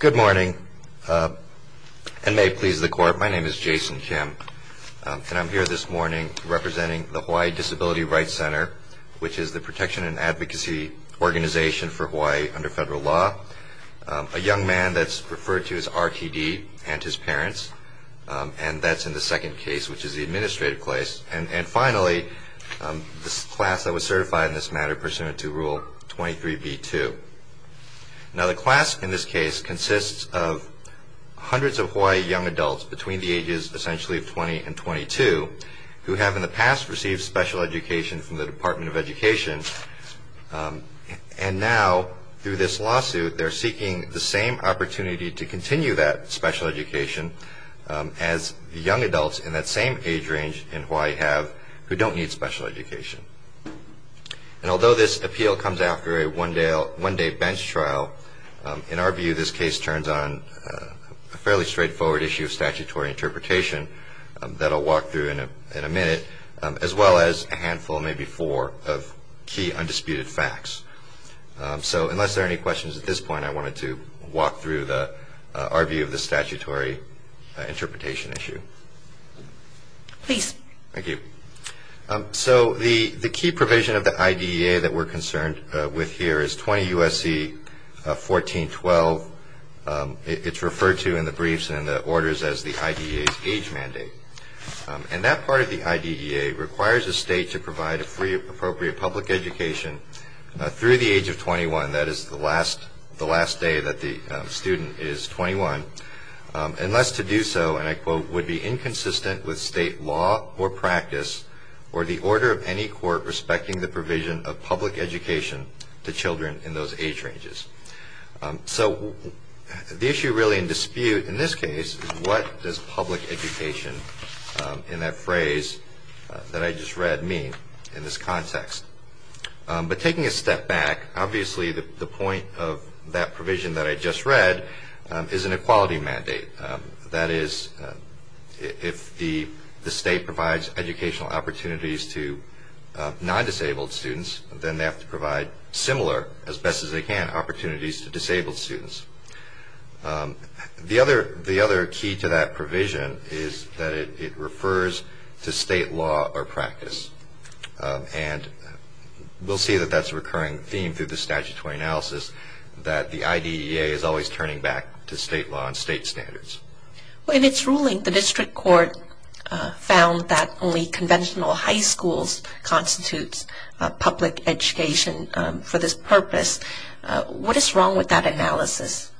Good morning, and may it please the Court, my name is Jason Kim, and I'm here this morning representing the Hawaii Disability Rights Center, which is the protection and advocacy organization for Hawaii under federal law. A young man that's referred to as R.T.D. and his parents, and that's in the second case, which is the administrative case. And finally, this class that was certified in this matter pursuant to Rule 23b-2. Now, the class in this case consists of hundreds of Hawaii young adults between the ages essentially of 20 and 22, who have in the past received special education from the Department of Education, and now through this lawsuit they're seeking the same opportunity to continue that special education as young adults in that same age range in Hawaii have who don't need special education. And although this appeal comes after a one-day bench trial, in our view this case turns on a fairly straightforward issue of statutory interpretation that I'll walk through in a minute, as well as a handful, maybe four, of key undisputed facts. So unless there are any questions at this point, I wanted to walk through our view of the statutory interpretation issue. Please. Thank you. So the key provision of the IDEA that we're concerned with here is 20 U.S.C. 1412. It's referred to in the briefs and in the orders as the IDEA's age mandate. And that part of the IDEA requires a state to provide appropriate public education through the age of 21, that is the last day that the student is 21, unless to do so, and I quote, would be inconsistent with state law or practice or the order of any court respecting the provision of public education to children in those age ranges. So the issue really in dispute in this case is what does public education in that phrase that I just read mean in this context? But taking a step back, obviously the point of that provision that I just read is an equality mandate. That is, if the state provides educational opportunities to non-disabled students, then they have to provide similar, as best as they can, opportunities to disabled students. The other key to that provision is that it refers to state law or practice. And we'll see that that's a recurring theme through the statutory analysis, that the IDEA is always turning back to state law and state standards. In its ruling, the district court found that only conventional high schools constitutes public education for this purpose. What is wrong with that analysis?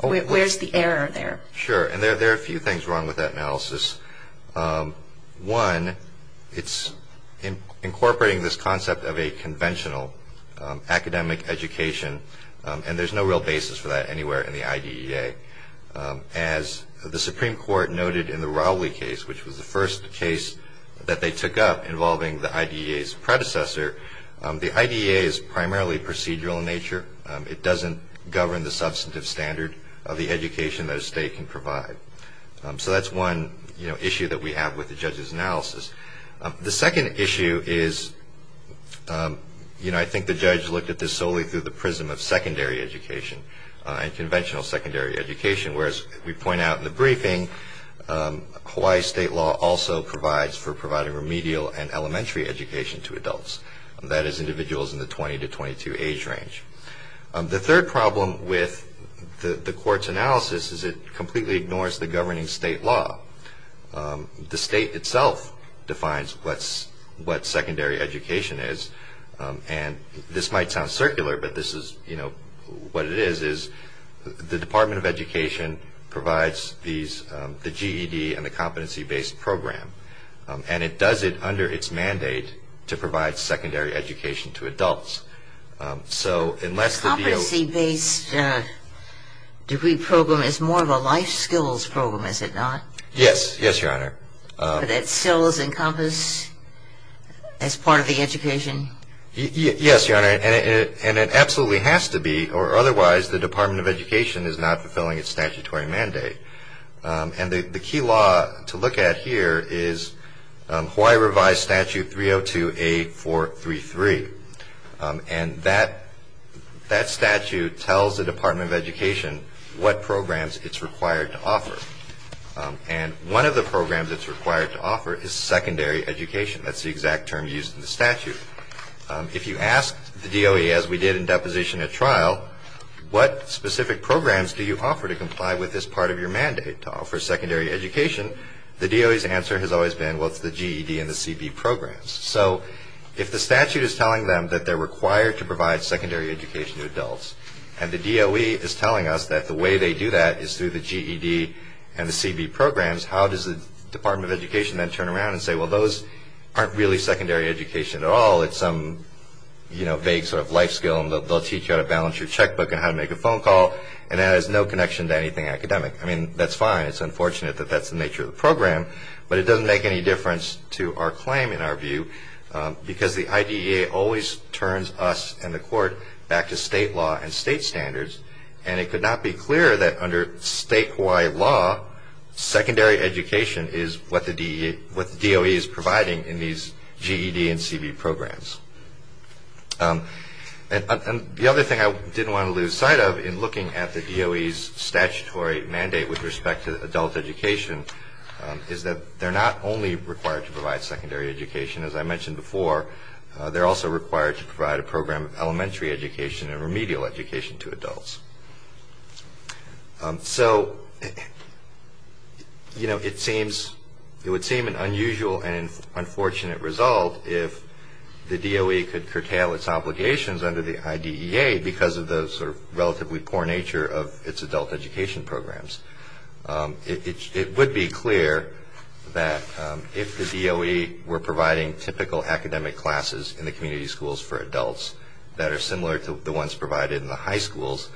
Where's the error there? Sure, and there are a few things wrong with that analysis. One, it's incorporating this concept of a conventional academic education, and there's no real basis for that anywhere in the IDEA. As the Supreme Court noted in the Rowley case, which was the first case that they took up involving the IDEA's predecessor, the IDEA is primarily procedural in nature. It doesn't govern the substantive standard of the education that a state can provide. So that's one issue that we have with the judge's analysis. The second issue is, you know, I think the judge looked at this solely through the prism of secondary education and conventional secondary education, whereas we point out in the briefing, Hawaii state law also provides for providing remedial and elementary education to adults, that is, individuals in the 20 to 22 age range. The third problem with the court's analysis is it completely ignores the governing state law. The state itself defines what secondary education is, and this might sound circular, but this is, you know, what it is, is the Department of Education provides the GED and the competency-based program, and it does it under its mandate to provide secondary education to adults. The competency-based degree program is more of a life skills program, is it not? Yes, yes, Your Honor. But it still is encompassed as part of the education? Yes, Your Honor, and it absolutely has to be, or otherwise the Department of Education is not fulfilling its statutory mandate. And the key law to look at here is Hawaii revised statute 302A433, and that statute tells the Department of Education what programs it's required to offer. And one of the programs it's required to offer is secondary education. That's the exact term used in the statute. If you ask the DOE, as we did in deposition at trial, what specific programs do you offer to comply with this part of your mandate to offer secondary education, the DOE's answer has always been, well, it's the GED and the CB programs. So if the statute is telling them that they're required to provide secondary education to adults, and the DOE is telling us that the way they do that is through the GED and the CB programs, how does the Department of Education then turn around and say, well, those aren't really secondary education at all, it's some, you know, vague sort of life skill, they'll teach you how to balance your checkbook and how to make a phone call, and that has no connection to anything academic. I mean, that's fine. It's unfortunate that that's the nature of the program, but it doesn't make any difference to our claim in our view because the IDEA always turns us and the court back to state law and state standards, and it could not be clearer that under statewide law, secondary education is what the DOE is providing in these GED and CB programs. And the other thing I didn't want to lose sight of in looking at the DOE's statutory mandate with respect to adult education is that they're not only required to provide secondary education, as I mentioned before, they're also required to provide a program of elementary education and remedial education to adults. So, you know, it seems, it would seem an unusual and unfortunate result if the DOE could curtail its obligations under the IDEA because of the sort of relatively poor nature of its adult education programs. It would be clear that if the DOE were providing typical academic classes in the community schools for adults that are similar to the ones provided in the high schools,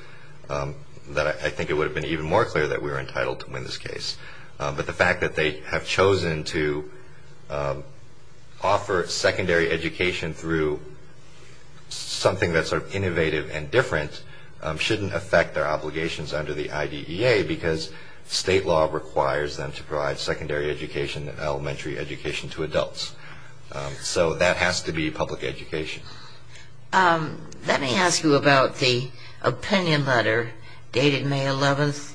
that I think it would have been even more clear that we were entitled to win this case. But the fact that they have chosen to offer secondary education through something that's sort of innovative and different shouldn't affect their obligations under the IDEA because state law requires them to provide secondary education and elementary education to adults. So that has to be public education. Let me ask you about the opinion letter dated May 11th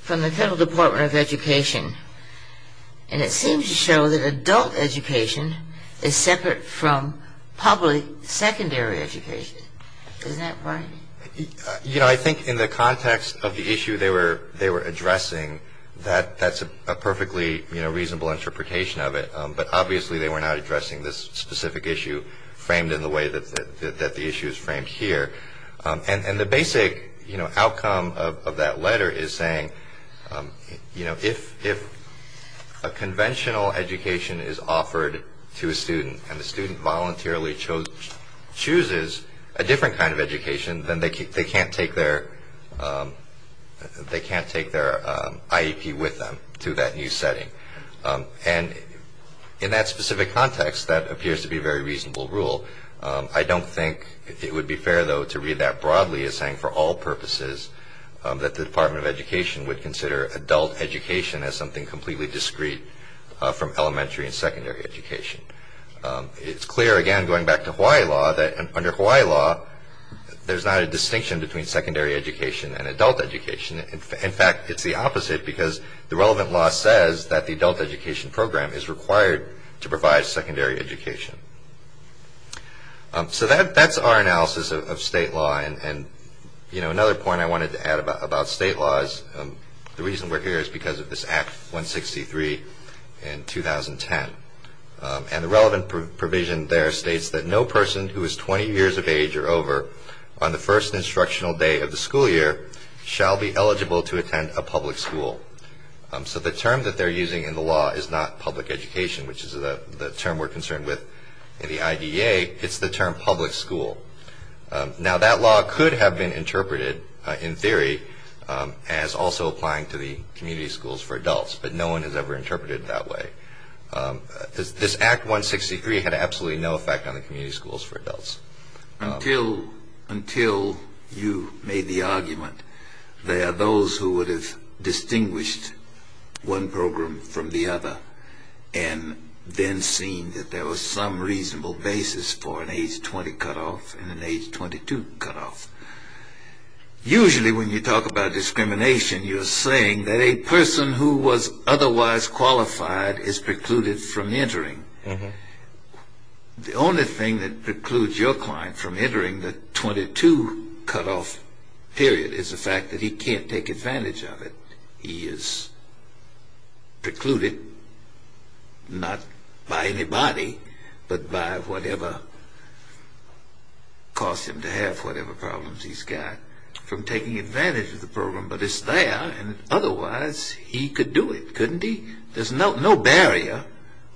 from the Federal Department of Education. And it seems to show that adult education is separate from public secondary education. Isn't that right? You know, I think in the context of the issue they were addressing, that's a perfectly reasonable interpretation of it. But obviously they were not addressing this specific issue framed in the way that the issue is framed here. And the basic outcome of that letter is saying, you know, and the student voluntarily chooses a different kind of education, then they can't take their IEP with them to that new setting. And in that specific context, that appears to be a very reasonable rule. I don't think it would be fair, though, to read that broadly as saying for all purposes that the Department of Education would consider adult education as something completely discreet from elementary and secondary education. It's clear, again, going back to Hawaii law, that under Hawaii law, there's not a distinction between secondary education and adult education. In fact, it's the opposite because the relevant law says that the adult education program is required to provide secondary education. So that's our analysis of state law. And, you know, another point I wanted to add about state law is the reason we're here is because of this Act 163 in 2010. And the relevant provision there states that no person who is 20 years of age or over on the first instructional day of the school year shall be eligible to attend a public school. So the term that they're using in the law is not public education, which is the term we're concerned with in the IDEA. It's the term public school. Now, that law could have been interpreted in theory as also applying to the community schools for adults, but no one has ever interpreted it that way. This Act 163 had absolutely no effect on the community schools for adults. Until you made the argument that those who would have distinguished one program from the other and then seen that there was some reasonable basis for an age 20 cutoff and an age 22 cutoff. Usually when you talk about discrimination, you're saying that a person who was otherwise qualified is precluded from entering. The only thing that precludes your client from entering the 22 cutoff period is the fact that he can't take advantage of it. He is precluded, not by anybody, but by whatever caused him to have whatever problems he's got, from taking advantage of the program. But it's there, and otherwise he could do it, couldn't he? There's no barrier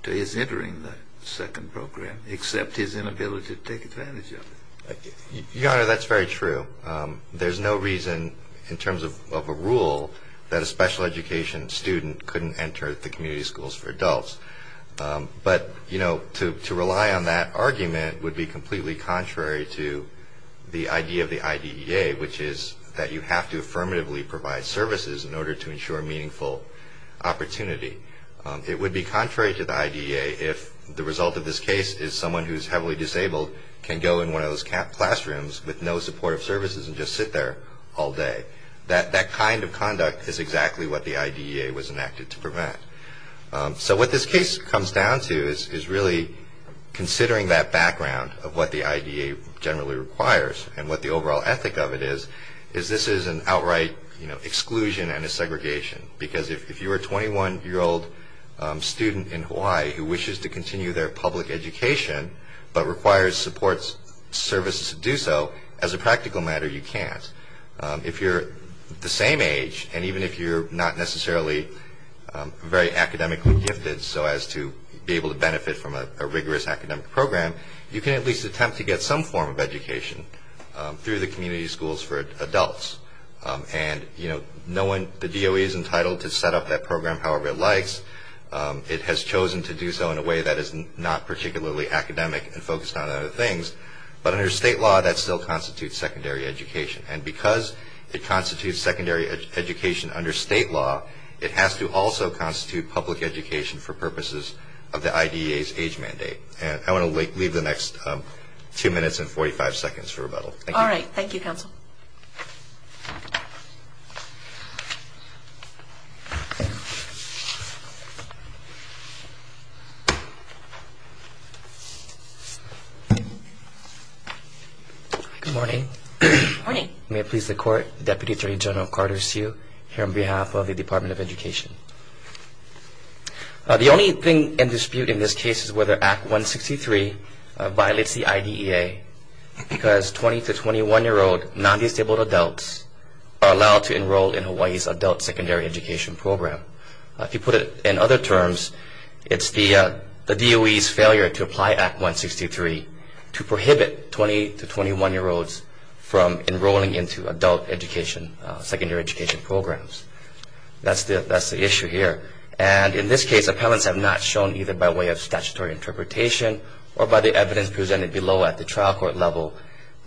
to his entering the second program except his inability to take advantage of it. Your Honor, that's very true. There's no reason in terms of a rule that a special education student couldn't enter the community schools for adults. But to rely on that argument would be completely contrary to the idea of the IDEA, which is that you have to affirmatively provide services in order to ensure meaningful opportunity. It would be contrary to the IDEA if the result of this case is someone who is heavily disabled can go in one of those classrooms with no supportive services and just sit there all day. That kind of conduct is exactly what the IDEA was enacted to prevent. So what this case comes down to is really considering that background of what the IDEA generally requires and what the overall ethic of it is, is this is an outright exclusion and a segregation. Because if you're a 21-year-old student in Hawaii who wishes to continue their public education but requires support services to do so, as a practical matter you can't. If you're the same age and even if you're not necessarily very academically gifted so as to be able to benefit from a rigorous academic program, you can at least attempt to get some form of education through the community schools for adults. And, you know, the DOE is entitled to set up that program however it likes. It has chosen to do so in a way that is not particularly academic and focused on other things. But under state law that still constitutes secondary education. And because it constitutes secondary education under state law, it has to also constitute public education for purposes of the IDEA's age mandate. And I want to leave the next two minutes and 45 seconds for rebuttal. Thank you. All right. Thank you, Counsel. Good morning. Good morning. May it please the Court, Deputy Attorney General Carter Hsu here on behalf of the Department of Education. The only thing in dispute in this case is whether Act 163 violates the IDEA because 20 to 21-year-old non-disabled adults are allowed to enroll in Hawaii's adult secondary education program. If you put it in other terms, it's the DOE's failure to apply Act 163 to prohibit 20 to 21-year-olds from enrolling into adult education, secondary education programs. That's the issue here. And in this case, appellants have not shown either by way of statutory interpretation or by the evidence presented below at the trial court level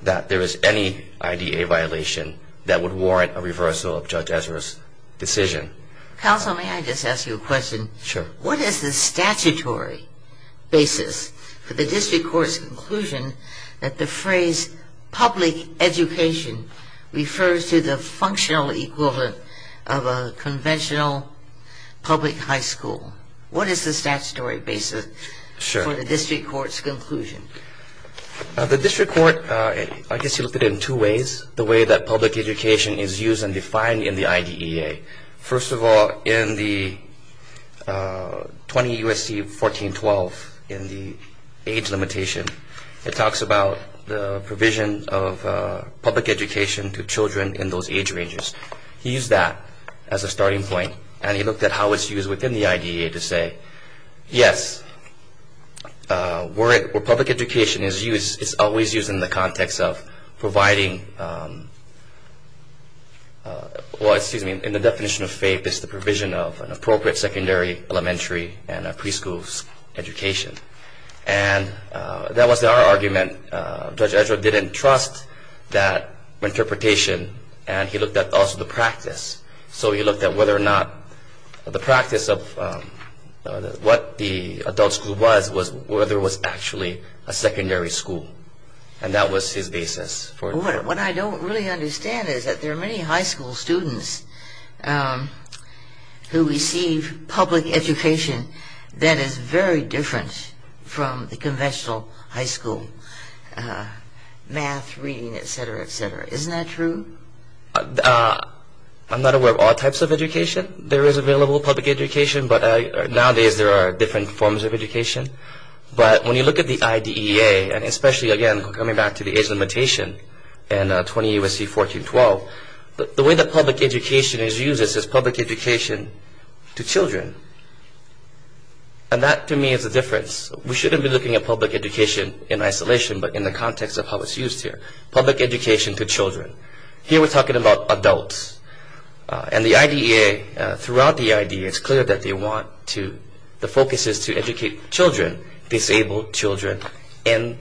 that there is any IDEA violation that would warrant a reversal of Judge Ezra's decision. Counsel, may I just ask you a question? Sure. What is the statutory basis for the district court's conclusion that the phrase public education refers to the functional equal of a conventional public high school? What is the statutory basis for the district court's conclusion? The district court, I guess you look at it in two ways. The way that public education is used and defined in the IDEA. First of all, in the 20 U.S.C. 1412, in the age limitation, it talks about the provision of public education to children in those age ranges. He used that as a starting point, and he looked at how it's used within the IDEA to say, yes, where public education is used, it's always used in the context of providing, well, excuse me, in the definition of FAPE, it's the provision of an appropriate secondary elementary and a preschool education. And that was our argument. And Judge Ezra didn't trust that interpretation, and he looked at also the practice. So he looked at whether or not the practice of what the adult school was, was whether it was actually a secondary school. And that was his basis. What I don't really understand is that there are many high school students who receive public education that is very different from the conventional high school, math, reading, et cetera, et cetera. Isn't that true? I'm not aware of all types of education. There is available public education, but nowadays there are different forms of education. But when you look at the IDEA, and especially, again, coming back to the age limitation in 20 U.S.C. 1412, the way that public education is used is public education to children. And that, to me, is the difference. We shouldn't be looking at public education in isolation, but in the context of how it's used here, public education to children. Here we're talking about adults. And the IDEA, throughout the IDEA, it's clear that they want to, the focus is to educate children, disabled children, in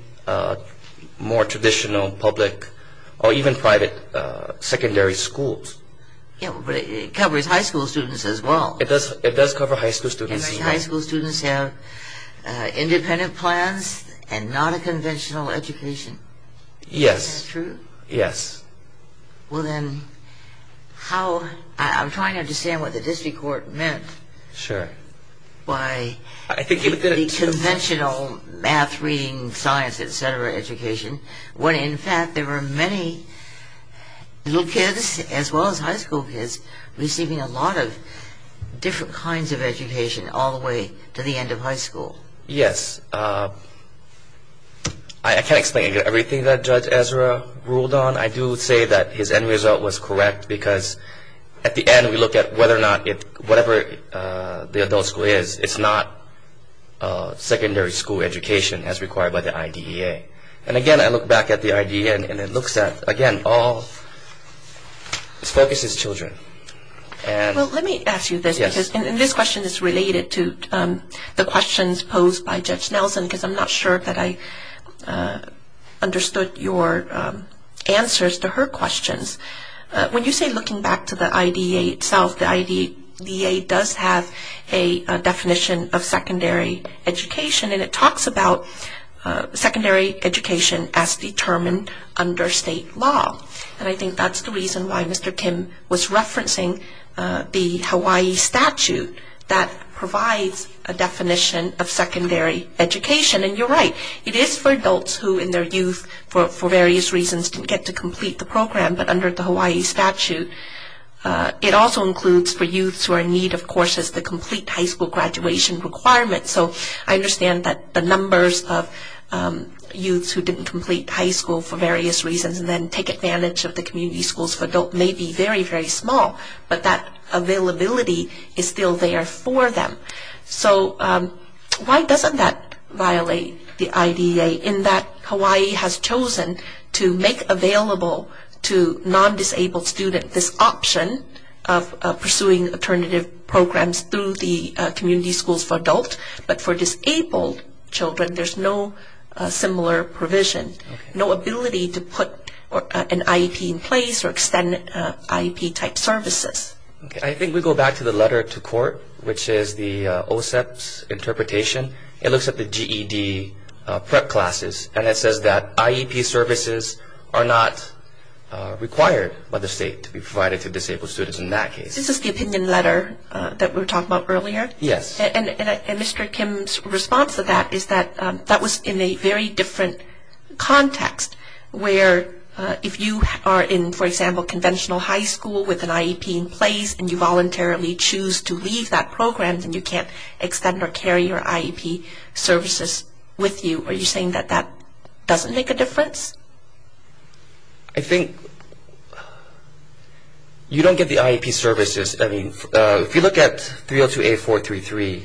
more traditional public or even private secondary schools. Yeah, but it covers high school students as well. It does cover high school students as well. And high school students have independent plans and not a conventional education. Yes. Is that true? Yes. Well, then, how, I'm trying to understand what the district court meant. Sure. By the conventional math, reading, science, et cetera education, when, in fact, there were many little kids, as well as high school kids, receiving a lot of different kinds of education all the way to the end of high school. Yes. I can't explain everything that Judge Ezra ruled on. I do say that his end result was correct because, at the end, we look at whether or not it, whatever the adult school is, it's not secondary school education as required by the IDEA. And, again, I look back at the IDEA and it looks at, again, all, its focus is children. Well, let me ask you this because this question is related to the questions posed by Judge Nelson because I'm not sure that I understood your answers to her questions. When you say looking back to the IDEA itself, the IDEA does have a definition of secondary education, and it talks about secondary education as determined under state law. And I think that's the reason why Mr. Kim was referencing the Hawaii statute that provides a definition of secondary education. And you're right. It is for adults who, in their youth, for various reasons, didn't get to complete the program, but under the Hawaii statute, it also includes for youths who are in need of courses to complete high school graduation requirements. So I understand that the numbers of youths who didn't complete high school for various reasons and then take advantage of the community schools for adults may be very, very small, but that availability is still there for them. So why doesn't that violate the IDEA in that Hawaii has chosen to make available to non-disabled students this option of pursuing alternative programs through the community schools for adults, but for disabled children, there's no similar provision, no ability to put an IEP in place or extend IEP-type services? I think we go back to the letter to court, which is the OSEP's interpretation. It looks at the GED prep classes, and it says that IEP services are not required by the state to be provided to disabled students in that case. This is the opinion letter that we were talking about earlier? Yes. And Mr. Kim's response to that is that that was in a very different context, where if you are in, for example, conventional high school with an IEP in place and you voluntarily choose to leave that program, then you can't extend or carry your IEP services with you. Are you saying that that doesn't make a difference? I think you don't get the IEP services. I mean, if you look at 302A433,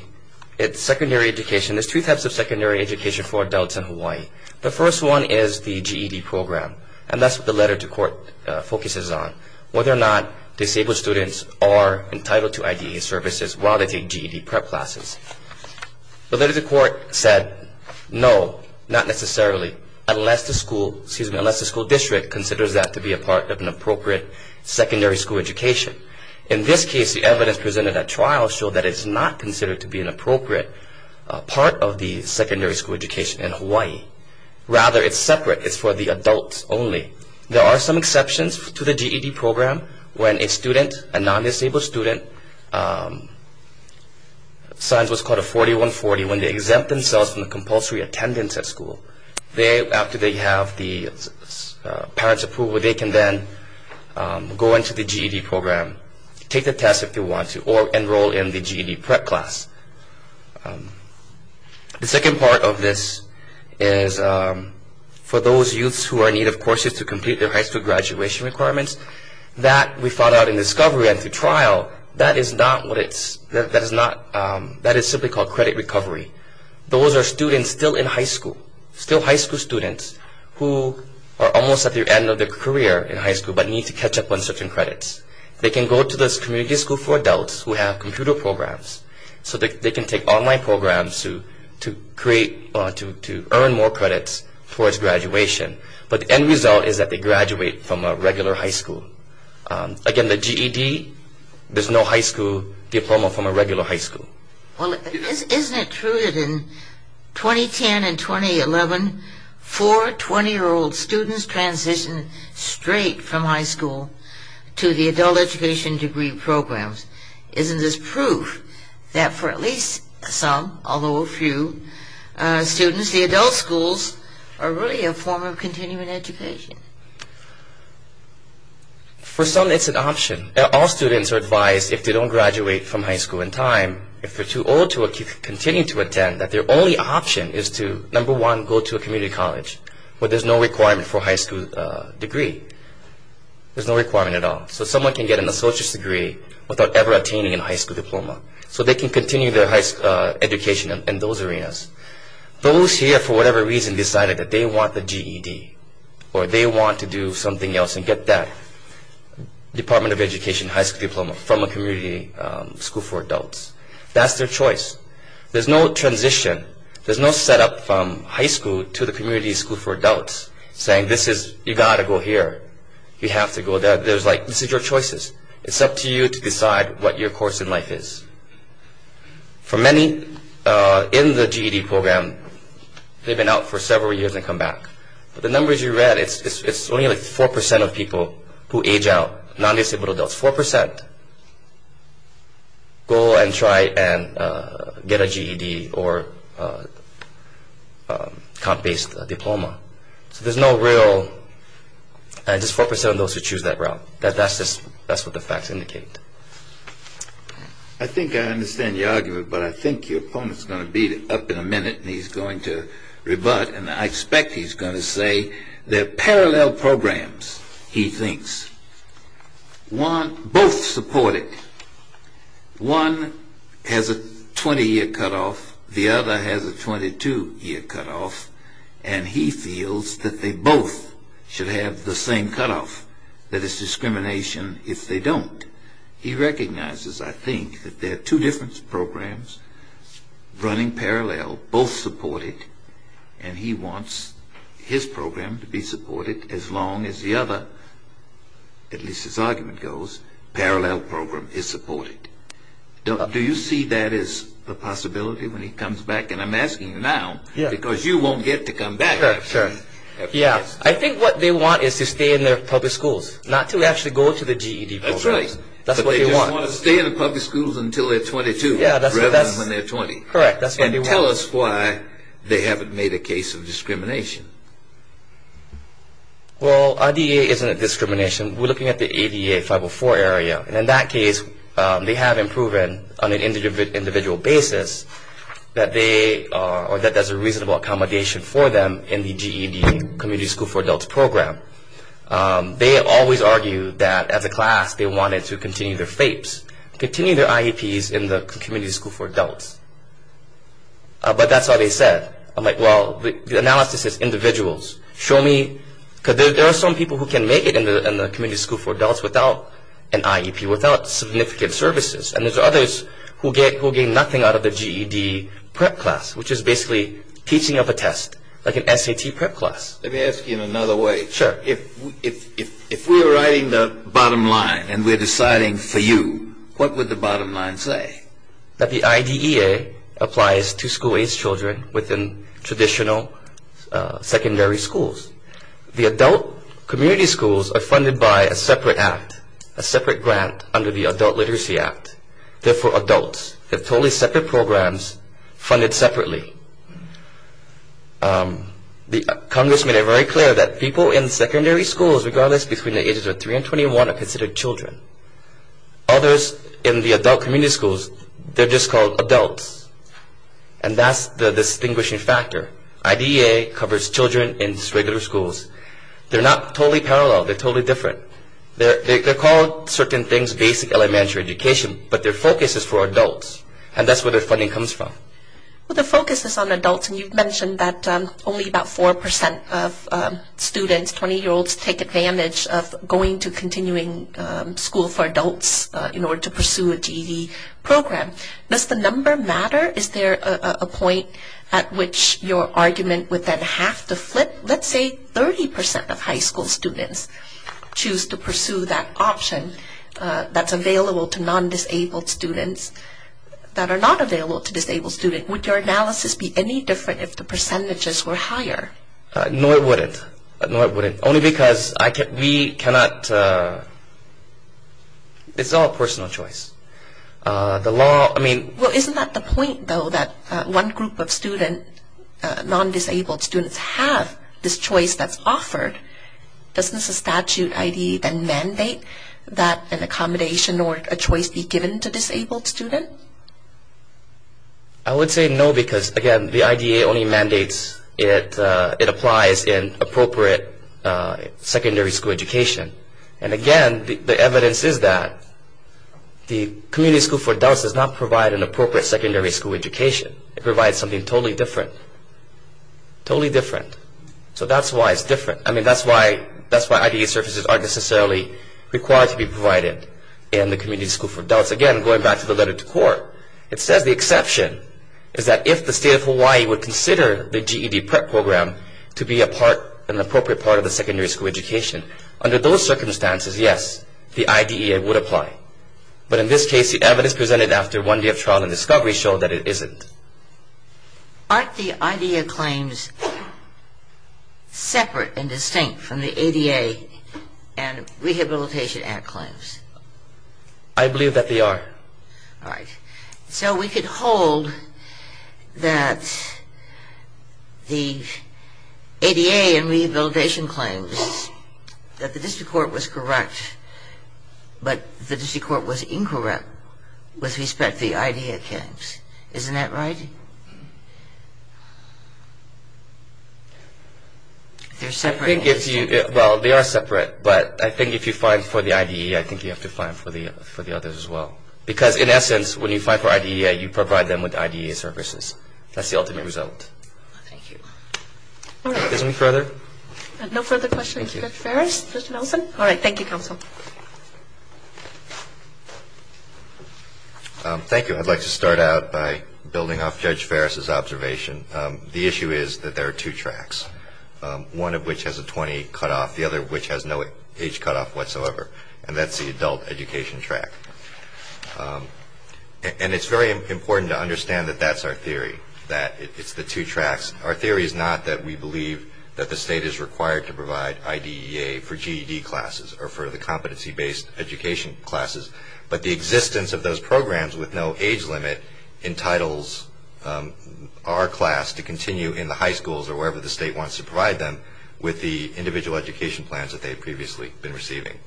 it's secondary education. There's two types of secondary education for adults in Hawaii. The first one is the GED program, and that's what the letter to court focuses on, whether or not disabled students are entitled to IDE services while they take GED prep classes. The letter to court said no, not necessarily, unless the school district considers that to be a part of an appropriate secondary school education. In this case, the evidence presented at trial showed that it's not considered to be an appropriate part of the secondary school education in Hawaii. Rather, it's separate. It's for the adults only. There are some exceptions to the GED program when a student, a non-disabled student, signs what's called a 4140, when they exempt themselves from the compulsory attendance at school. After they have the parents' approval, they can then go into the GED program, take the test if they want to, or enroll in the GED prep class. The second part of this is for those youths who are in need of courses to complete their high school graduation requirements. That, we found out in discovery and through trial, that is simply called credit recovery. Those are students still in high school, still high school students, who are almost at the end of their career in high school but need to catch up on certain credits. They can go to the community school for adults who have computer programs so they can take online programs to earn more credits towards graduation. But the end result is that they graduate from a regular high school. Again, the GED, there's no high school diploma from a regular high school. Well, isn't it true that in 2010 and 2011, four 20-year-old students transitioned straight from high school to the adult education degree programs? Isn't this proof that for at least some, although a few, students, the adult schools are really a form of continuing education? For some, it's an option. All students are advised if they don't graduate from high school in time, if they're too old to continue to attend, that their only option is to, number one, go to a community college where there's no requirement for a high school degree. There's no requirement at all. So someone can get an associate's degree without ever attaining a high school diploma. So they can continue their education in those arenas. Those here, for whatever reason, decided that they want the GED or they want to do something else and get that Department of Education high school diploma from a community school for adults. That's their choice. There's no transition. There's no setup from high school to the community school for adults saying, this is, you've got to go here. You have to go there. There's like, this is your choices. It's up to you to decide what your course in life is. For many in the GED program, they've been out for several years and come back. The numbers you read, it's only like 4% of people who age out, non-disabled adults, 4%. Go and try and get a GED or comp-based diploma. So there's no real, just 4% of those who choose that route. That's what the facts indicate. I think I understand your argument, but I think your opponent is going to beat it up in a minute and he's going to rebut. And I expect he's going to say they're parallel programs, he thinks. Both supported. One has a 20-year cutoff. The other has a 22-year cutoff. And he feels that they both should have the same cutoff. That it's discrimination if they don't. He recognizes, I think, that there are two different programs running parallel, both supported. And he wants his program to be supported as long as the other, at least his argument goes, parallel program is supported. Do you see that as a possibility when he comes back? And I'm asking you now, because you won't get to come back after this. I think what they want is to stay in their public schools, not to actually go to the GED program. That's right. But they just want to stay in the public schools until they're 22, rather than when they're 20. Correct, that's what they want. And tell us why they haven't made a case of discrimination. Well, IDEA isn't a discrimination. We're looking at the ADA 504 area. And in that case, they haven't proven on an individual basis that they are, or that there's a reasonable accommodation for them in the GED, Community School for Adults program. They always argue that as a class, they wanted to continue their FAPES, continue their IEPs in the Community School for Adults. But that's all they said. I'm like, well, the analysis is individuals. Show me, because there are some people who can make it in the Community School for Adults without an IEP, without significant services. And there's others who gain nothing out of the GED prep class, which is basically teaching of a test, like an SAT prep class. Let me ask you in another way. Sure. If we were writing the bottom line and we're deciding for you, what would the bottom line say? That the IDEA applies to school-age children within traditional secondary schools. The adult community schools are funded by a separate act, a separate grant under the Adult Literacy Act. Therefore, adults have totally separate programs funded separately. The congressmen are very clear that people in secondary schools, regardless between the ages of 3 and 21, are considered children. Others in the adult community schools, they're just called adults. And that's the distinguishing factor. IDEA covers children in regular schools. They're not totally parallel. They're totally different. They're called certain things basic elementary education, but their focus is for adults. And that's where their funding comes from. Well, the focus is on adults, and you've mentioned that only about 4% of students, 20-year-olds, take advantage of going to continuing school for adults in order to pursue a GED program. Does the number matter? Is there a point at which your argument would then have to flip? Let's say 30% of high school students choose to pursue that option that's available to non-disabled students that are not available to disabled students. Would your analysis be any different if the percentages were higher? Nor would it. Only because we cannot – it's all a personal choice. Well, isn't that the point, though, that one group of students, non-disabled students, have this choice that's offered? Doesn't the statute, IDE, then mandate that an accommodation or a choice be given to disabled students? I would say no because, again, the IDE only mandates it applies in appropriate secondary school education. And, again, the evidence is that the community school for adults does not provide an appropriate secondary school education. It provides something totally different. Totally different. So that's why it's different. I mean, that's why IDE services aren't necessarily required to be provided in the community school for adults. Again, going back to the letter to court, it says the exception is that if the state of Hawaii would consider the GED prep program to be an appropriate part of the secondary school education, under those circumstances, yes, the IDEA would apply. But in this case, the evidence presented after one day of trial and discovery showed that it isn't. Aren't the IDEA claims separate and distinct from the ADA and Rehabilitation Act claims? I believe that they are. All right. So we could hold that the ADA and Rehabilitation claims that the district court was correct, but the district court was incorrect with respect to the IDEA claims. Isn't that right? They're separate. Well, they are separate, but I think if you find for the IDEA, I think you have to find for the others as well. Because in essence, when you find for IDEA, you provide them with IDEA services. That's the ultimate result. Thank you. All right. Is there any further? No further questions. Thank you. Mr. Ferris, Mr. Nelson? All right. Thank you, counsel. Thank you. I'd like to start out by building off Judge Ferris' observation. The issue is that there are two tracks, one of which has a 20 cutoff, the other of which has no age cutoff whatsoever, and that's the adult education track. And it's very important to understand that that's our theory, that it's the two tracks. Our theory is not that we believe that the state is required to provide IDEA for GED classes or for the competency-based education classes, but the existence of those programs with no age limit entitles our class to continue in the high schools or wherever the state wants to provide them with the individual education plans that they had previously been receiving.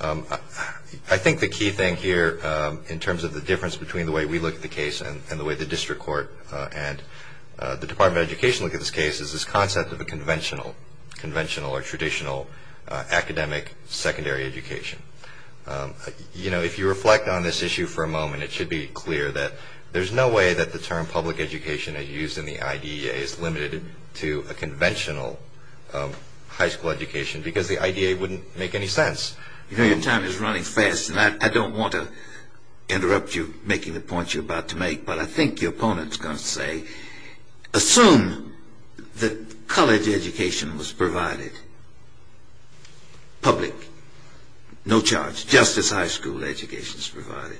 I think the key thing here in terms of the difference between the way we look at the case and the way the district court and the Department of Education look at this case is this concept of a conventional, conventional or traditional academic secondary education. You know, if you reflect on this issue for a moment, it should be clear that there's no way that the term public education as used in the IDEA is limited to a conventional high school education because the IDEA wouldn't make any sense. You know, your time is running fast, and I don't want to interrupt you making the points you're about to make, but I think your opponent is going to say, assume that college education was provided, public, no charge, just as high school education is provided,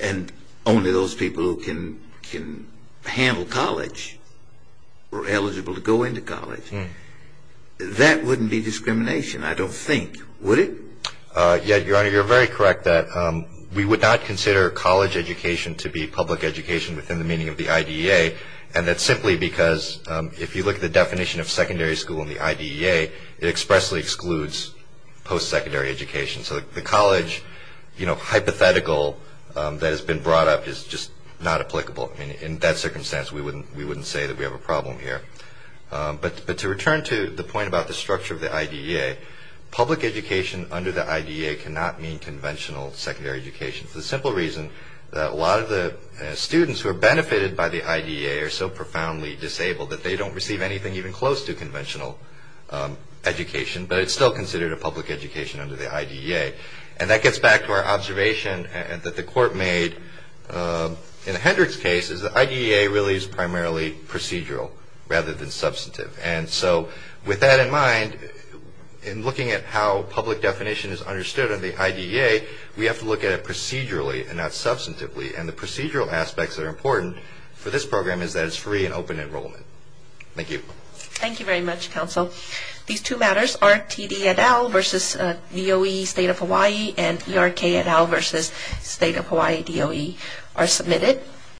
and only those people who can handle college were eligible to go into college. That wouldn't be discrimination, I don't think, would it? Yeah, Your Honor, you're very correct that we would not consider college education to be public education within the meaning of the IDEA, and that's simply because if you look at the definition of secondary school in the IDEA, it expressly excludes post-secondary education. So the college, you know, hypothetical that has been brought up is just not applicable. I mean, in that circumstance, we wouldn't say that we have a problem here. But to return to the point about the structure of the IDEA, public education under the IDEA cannot mean conventional secondary education for the simple reason that a lot of the students who are benefited by the IDEA are so profoundly disabled that they don't receive anything even close to conventional education, but it's still considered a public education under the IDEA. And that gets back to our observation that the Court made in Hendrick's case, is the IDEA really is primarily procedural rather than substantive. And so with that in mind, in looking at how public definition is understood under the IDEA, we have to look at it procedurally and not substantively. And the procedural aspects that are important for this program is that it's free and open enrollment. Thank you. Thank you very much, Counsel. These two matters, RTD et al. versus DOE State of Hawaii and ERK et al. versus State of Hawaii DOE are submitted.